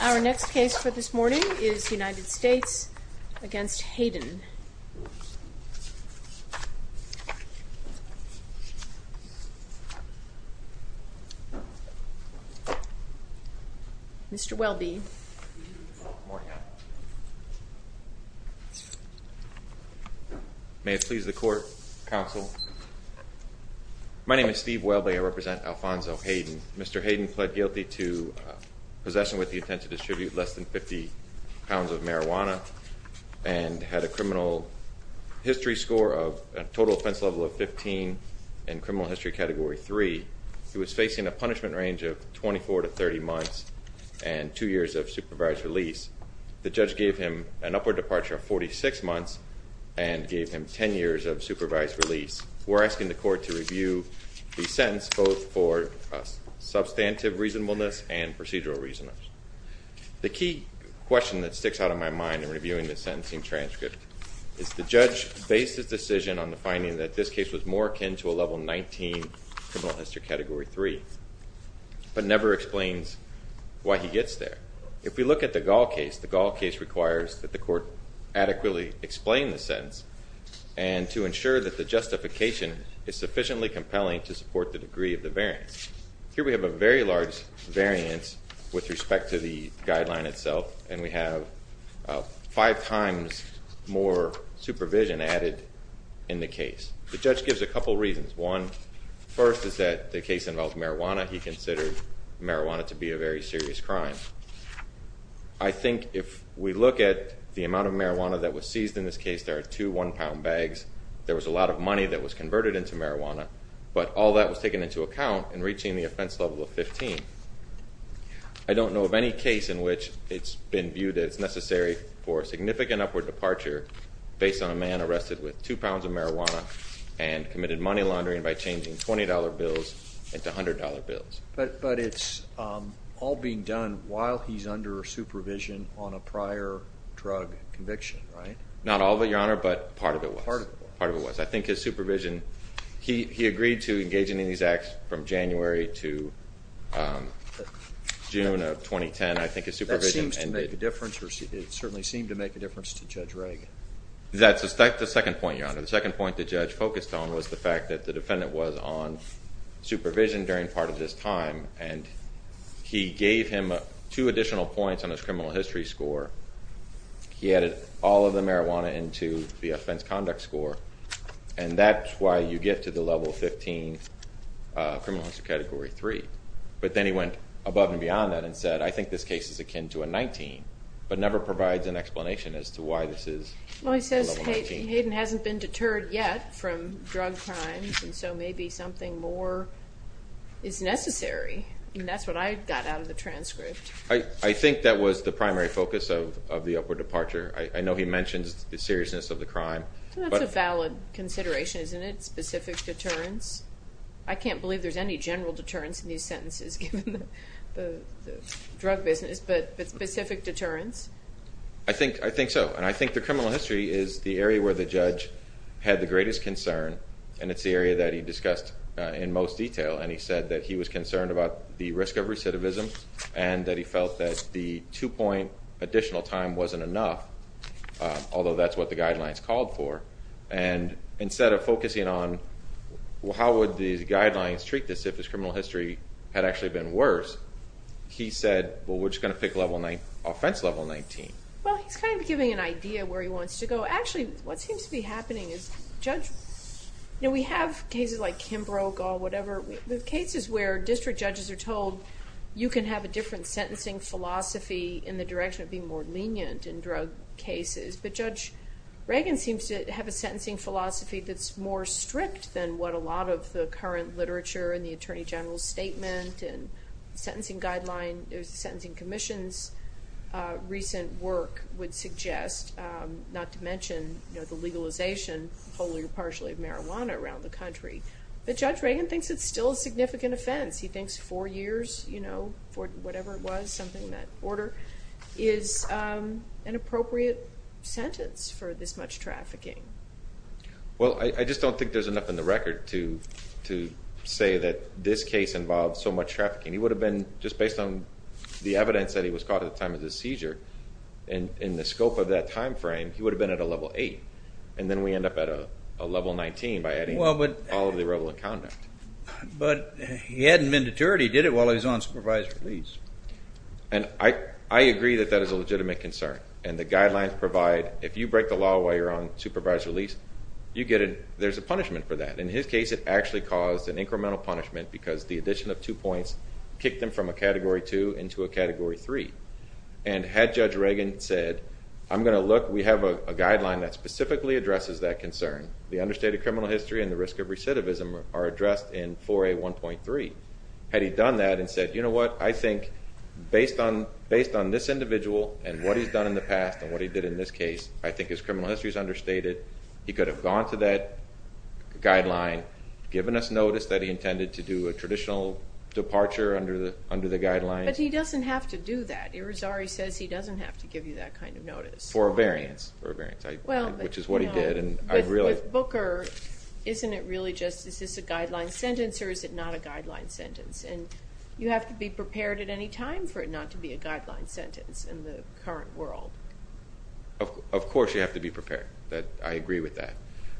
Our next case for this morning is United States v. Hayden. Mr. Welby. May it please the court, counsel. My name is Steve Welby. I represent Alfonso Hayden. Mr. Hayden pled guilty to possession with the intent to distribute less than 50 pounds of marijuana and had a criminal history score of a total offense level of 15 and criminal history category 3. He was facing a punishment range of 24 to 30 months and two years of supervised release. The judge gave him an upward departure of 46 months and gave him 10 years of supervised release. We're asking the court to review the sentence both for substantive reasonableness and procedural reasonableness. The key question that sticks out in my mind in reviewing the sentencing transcript is the judge based his decision on the finding that this case was more akin to a level 19 criminal history category 3 but never explains why he gets there. If we look at the Gall case, the Gall case requires that the court adequately explain the sentence and to ensure that the justification is sufficiently compelling to support the degree of the variance. Here we have a very large variance with respect to the guideline itself and we have five times more supervision added in the case. The judge gives a couple reasons. One first is that the case involved marijuana. He considered marijuana to be a very serious crime. I think if we look at the amount of marijuana that was seized in this case, there are two one pound bags. There was a lot of money that was converted into marijuana but all that was taken into account in reaching the offense level of 15. I don't know of any case in which it's been viewed as necessary for a significant upward and committed money laundering by changing $20 bills into $100 bills. But it's all being done while he's under supervision on a prior drug conviction, right? Not all of it, your honor, but part of it was. I think his supervision, he agreed to engage in these acts from January to June of 2010. I think his supervision. That seems to make a difference. It certainly seemed to make a difference to Judge Reagan. That's the second point, your honor. The second point the judge focused on was the fact that the defendant was on supervision during part of this time and he gave him two additional points on his criminal history score. He added all of the marijuana into the offense conduct score and that's why you get to the level 15 criminal history category 3. But then he went above and beyond that and said, I think this case is akin to a 19. Well he says Hayden hasn't been deterred yet from drug crimes and so maybe something more is necessary. And that's what I got out of the transcript. I think that was the primary focus of the upward departure. I know he mentions the seriousness of the crime. That's a valid consideration, isn't it? Specific deterrence. I can't believe there's any general deterrence in these sentences given the drug business, but specific deterrence? I think so. And I think the criminal history is the area where the judge had the greatest concern and it's the area that he discussed in most detail. And he said that he was concerned about the risk of recidivism and that he felt that the two point additional time wasn't enough, although that's what the guidelines called for. And instead of focusing on how would these guidelines treat this if his criminal history had actually been worse, he said, well we're just going to pick offense level 19. Well, he's kind of giving an idea where he wants to go. Actually, what seems to be happening is we have cases like Kimbroke or whatever, cases where district judges are told you can have a different sentencing philosophy in the direction of being more lenient in drug cases, but Judge Reagan seems to have a sentencing philosophy that's more strict than what a lot of the current literature and the Attorney General's and the Sentencing Guidelines, the Sentencing Commission's recent work would suggest, not to mention the legalization wholly or partially of marijuana around the country, but Judge Reagan thinks it's still a significant offense. He thinks four years for whatever it was, something that order, is an appropriate sentence for this much trafficking. Well, I just don't think there's enough in the record to say that this case involved so much trafficking. He would have been, just based on the evidence that he was caught at the time of the seizure, in the scope of that time frame, he would have been at a level 8, and then we end up at a level 19 by adding all of the irrelevant conduct. But he hadn't been deterred, he did it while he was on supervised release. And I agree that that is a legitimate concern, and the guidelines provide if you break the law while you're on supervised release, you get a, there's a punishment for that. In his case, it actually caused an incremental punishment because the addition of two points kicked him from a Category 2 into a Category 3. And had Judge Reagan said, I'm going to look, we have a guideline that specifically addresses that concern, the understated criminal history and the risk of recidivism are addressed in 4A1.3. Had he done that and said, you know what, I think based on this individual and what he's done in the past and what he did in this case, I think his criminal history is understated, he could have gone to that guideline, given us notice that he intended to do a traditional departure under the guidelines. But he doesn't have to do that. Irizarry says he doesn't have to give you that kind of notice. For a variance. For a variance, which is what he did, and I really... But with Booker, isn't it really just, is this a guideline sentence or is it not a guideline sentence? And you have to be prepared at any time for it not to be a guideline sentence in the current world. Of course, you have to be prepared. I agree with that.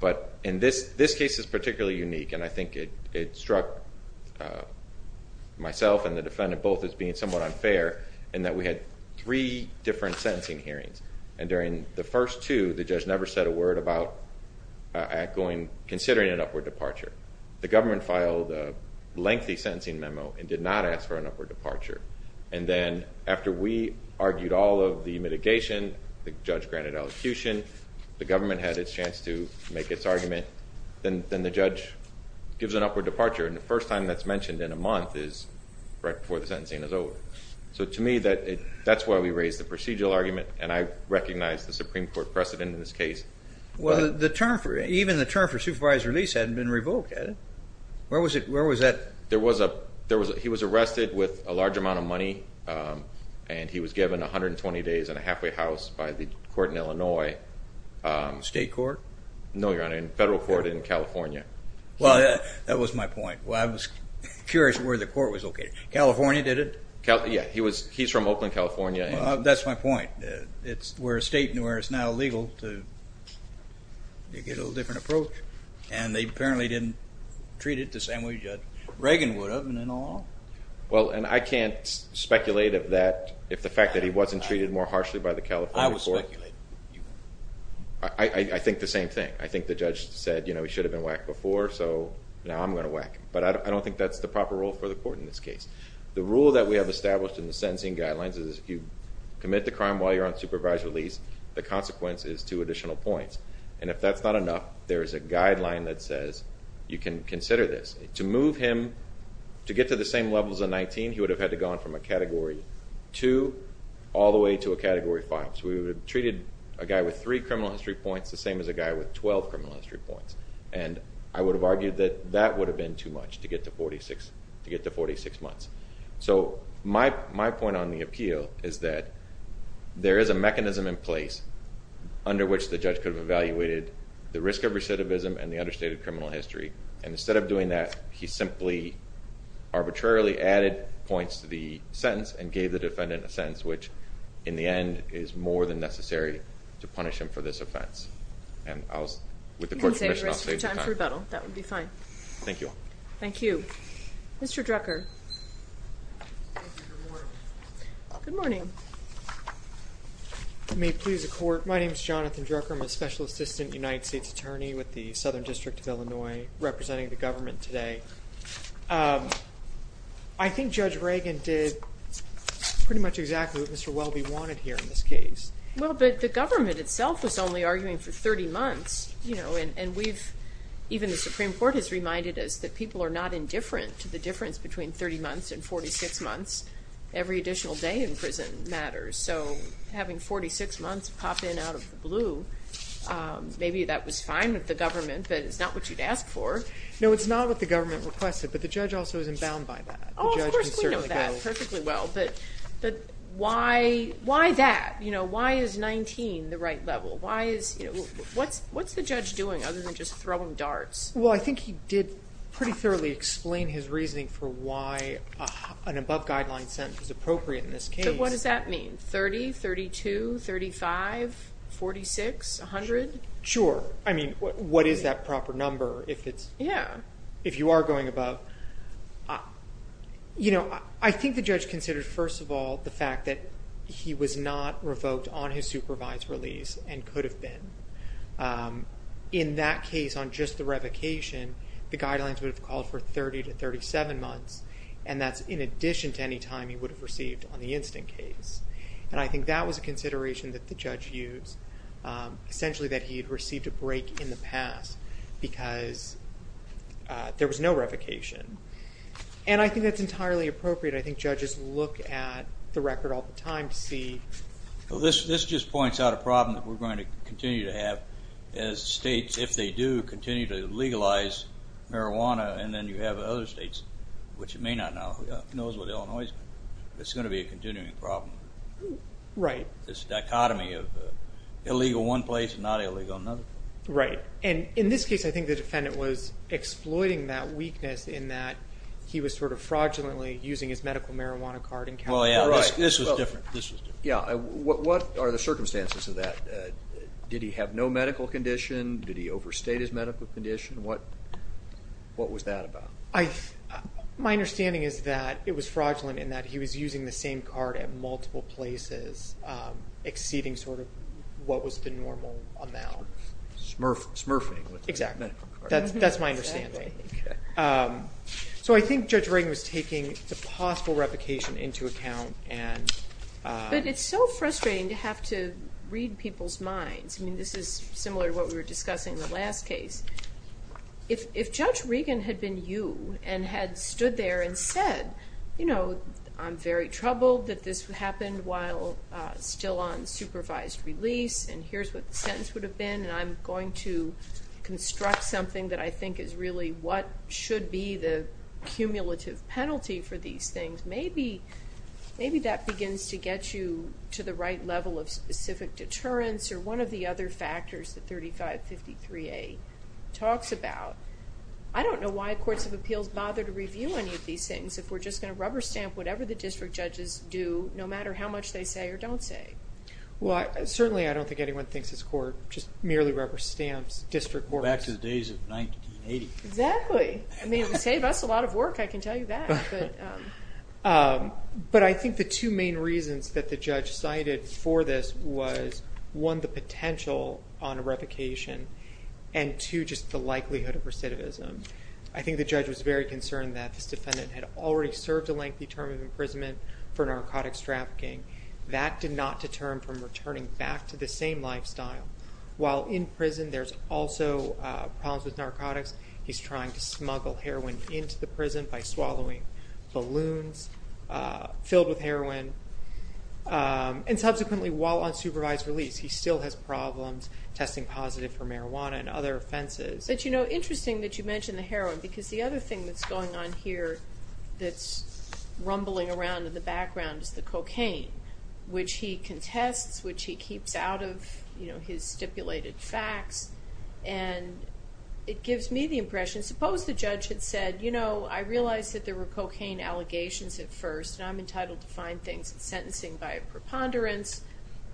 But in this case, it's particularly unique and I think it struck myself and the defendant both as being somewhat unfair in that we had three different sentencing hearings. And during the first two, the judge never said a word about considering an upward departure. The government filed a lengthy sentencing memo and did not ask for an upward departure. And then after we argued all of the mitigation, the judge granted elocution, the government had its chance to make its argument, then the judge gives an upward departure. And the first time that's mentioned in a month is right before the sentencing is over. So to me, that's why we raised the procedural argument. And I recognize the Supreme Court precedent in this case. Well, the term, even the term for supervised release hadn't been revoked, had it? Where was it? Where was that? There was a, he was arrested with a large amount of money and he was given 120 days and a halfway house by the court in Illinois. State court? No, your honor. Federal court in California. Well, that was my point. Well, I was curious where the court was located. California, did it? Yeah. He was, he's from Oakland, California. That's my point. It's where state and where it's now legal to, you get a little different approach. And they apparently didn't treat it the same way that Reagan would have and then all. Well, and I can't speculate if that, if the fact that he wasn't treated more harshly by the California court. I would speculate. I think the same thing. I think the judge said, you know, he should have been whacked before, so now I'm going to whack him. But I don't think that's the proper rule for the court in this case. The rule that we have established in the sentencing guidelines is if you commit the crime while you're on supervised release, the consequence is two additional points. And if that's not enough, there is a guideline that says you can consider this. To move him, to get to the same levels of 19, he would have had to gone from a Category 2 all the way to a Category 5. So we would have treated a guy with three criminal history points the same as a guy with 12 criminal history points. And I would have argued that that would have been too much to get to 46, to get to 46 months. So my, my point on the appeal is that there is a mechanism in place under which the judge could have evaluated the risk of recidivism and the understated criminal history. And instead of doing that, he simply arbitrarily added points to the sentence and gave the defendant a sentence which, in the end, is more than necessary to punish him for this offense. And I'll, with the court's permission, I'll save you time. You can save the rest of your time for rebuttal. That would be fine. Thank you. Thank you. Mr. Drucker. Thank you. Good morning. Good morning. Thank you. May it please the court, my name is Jonathan Drucker. I'm a Special Assistant United States Attorney with the Southern District of Illinois representing the government today. I think Judge Reagan did pretty much exactly what Mr. Welby wanted here in this case. Well, but the government itself was only arguing for 30 months, you know, and, and we've, even the Supreme Court has reminded us that people are not indifferent to the difference between 30 months and 46 months. Every additional day in prison matters, so having 46 months pop in out of the blue, maybe that was fine with the government, but it's not what you'd ask for. No, it's not what the government requested, but the judge also is inbound by that. Oh, of course, we know that perfectly well, but, but why, why that? You know, why is 19 the right level? Why is, you know, what's, what's the judge doing other than just throwing darts? Well, I think he did pretty thoroughly explain his reasoning for why an above guideline sentence is appropriate in this case. But what does that mean? 30, 32, 35, 46, 100? Sure. I mean, what, what is that proper number if it's, if you are going above? You know, I think the judge considered, first of all, the fact that he was not revoked on his supervised release and could have been. In that case, on just the revocation, the guidelines would have called for 30 to 37 months, and that's in addition to any time he would have received on the instant case. And I think that was a consideration that the judge used, essentially that he had received a break in the past because there was no revocation. And I think that's entirely appropriate. I think judges look at the record all the time to see, well, this, this just points out a problem that we're going to continue to have as states, if they do continue to legalize marijuana, and then you have other states, which it may not now, who knows what Illinois is, it's going to be a continuing problem. Right. This dichotomy of illegal in one place and not illegal in another place. Right. And in this case, I think the defendant was exploiting that weakness in that he was sort of fraudulently using his medical marijuana card in California. Well, yeah. This was different. This was different. Yeah. What are the circumstances of that? Did he have no medical condition? Did he overstate his medical condition? What was that about? My understanding is that it was fraudulent in that he was using the same card at multiple places, exceeding sort of what was the normal amount. Smurfing. Smurfing. Exactly. That's my understanding. So, I think Judge Regan was taking the possible replication into account. But it's so frustrating to have to read people's minds. I mean, this is similar to what we were discussing in the last case. If Judge Regan had been you and had stood there and said, you know, I'm very troubled that this happened while still on supervised release, and here's what the sentence would be, what should be the cumulative penalty for these things, maybe that begins to get you to the right level of specific deterrence or one of the other factors that 3553A talks about. I don't know why courts of appeals bother to review any of these things if we're just going to rubber stamp whatever the district judges do, no matter how much they say or don't say. Well, certainly I don't think anyone thinks this court just merely rubber stamps district court. Back to the days of 1980. Exactly. I mean, it would save us a lot of work, I can tell you that. But I think the two main reasons that the judge cited for this was, one, the potential on a replication, and two, just the likelihood of recidivism. I think the judge was very concerned that this defendant had already served a lengthy term of imprisonment for narcotics trafficking. That did not deter him from returning back to the same lifestyle. While in prison, there's also problems with narcotics. He's trying to smuggle heroin into the prison by swallowing balloons filled with heroin. And subsequently, while on supervised release, he still has problems testing positive for marijuana and other offenses. But, you know, interesting that you mention the heroin, because the other thing that's going on here that's rumbling around in the background is the cocaine, which he contests, which he keeps out of his stipulated facts. And it gives me the impression, suppose the judge had said, you know, I realize that there were cocaine allegations at first, and I'm entitled to find things in sentencing by a preponderance.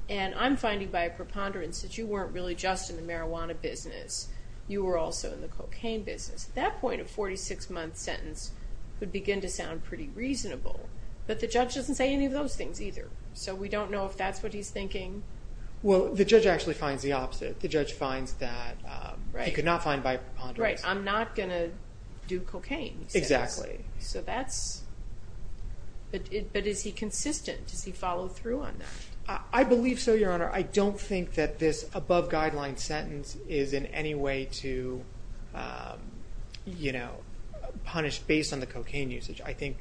And I'm finding by a preponderance that you weren't really just in the marijuana business, you were also in the cocaine business. At that point, a 46-month sentence would begin to sound pretty reasonable. But the judge doesn't say any of those things either. So we don't know if that's what he's thinking. Well, the judge actually finds the opposite. The judge finds that he could not find by a preponderance. Right. I'm not going to do cocaine, he says. Exactly. So that's... But is he consistent? Does he follow through on that? I believe so, Your Honor. I don't think that this above-guideline sentence is in any way to, you know, punish based on the cocaine usage. I think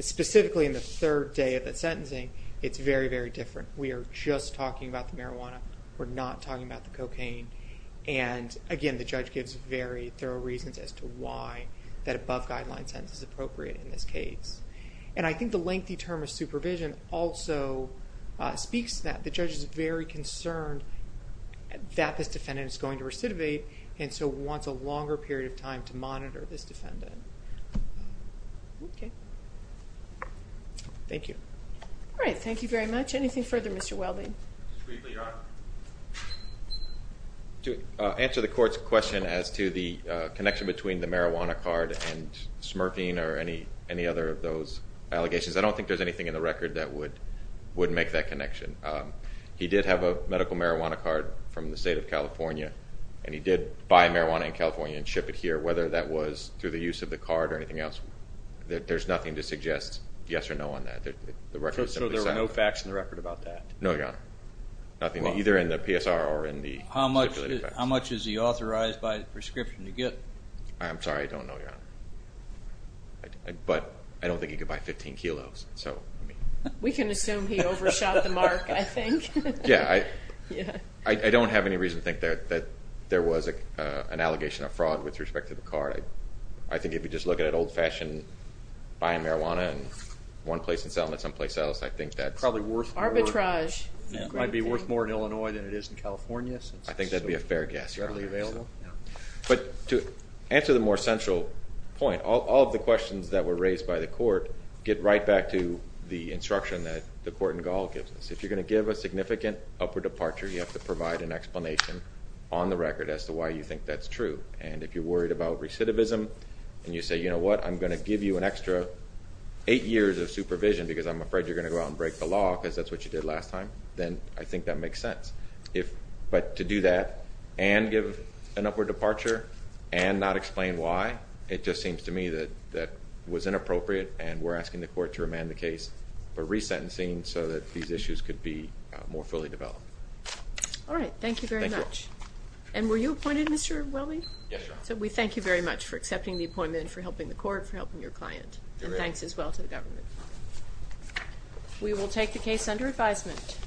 specifically in the third day of the sentencing, it's very, very different. We are just talking about the marijuana. We're not talking about the cocaine. And again, the judge gives very thorough reasons as to why that above-guideline sentence is appropriate in this case. And I think the lengthy term of supervision also speaks to that. The judge is very concerned that this defendant is going to recidivate, and so wants a longer period of time to monitor this defendant. Okay. Thank you. All right. Thank you very much. Anything further, Mr. Welding? Just briefly, Your Honor. To answer the court's question as to the connection between the marijuana card and smurfing or any other of those allegations, I don't think there's anything in the record that would make that connection. He did have a medical marijuana card from the state of California, and he did buy marijuana in California and ship it here, whether that was through the use of the card or anything else. There's nothing to suggest yes or no on that. The record is simply silent. So there were no facts in the record about that? No, Your Honor. Nothing, either in the PSR or in the stipulated facts. How much is he authorized by the prescription to get? I'm sorry. I don't know, Your Honor. But I don't think he could buy 15 kilos. We can assume he overshot the mark, I think. Yeah, I don't have any reason to think that there was an allegation of fraud with respect to the card. I think if you just look at it old-fashioned, buying marijuana in one place and selling it someplace else, I think that's... Probably worth more. Arbitrage. Might be worth more in Illinois than it is in California. I think that'd be a fair guess, Your Honor. But to answer the more central point, all of the questions that were raised by the court get right back to the instruction that the court in Gall gives us. If you're going to give a significant upward departure, you have to provide an explanation on the record as to why you think that's true. And if you're worried about recidivism and you say, you know what, I'm going to give you an extra eight years of supervision because I'm afraid you're going to go out and break the law because that's what you did last time, then I think that makes sense. But to do that and give an upward departure and not explain why, it just seems to me that was inappropriate and we're asking the court to remand the case for resentencing so that these issues could be more fully developed. All right. Thank you very much. Thank you. And were you appointed, Mr. Welby? Yes, Your Honor. So we thank you very much for accepting the appointment, for helping the court, for helping your client. You're welcome. And thanks as well to the government. We will take the case under advisement.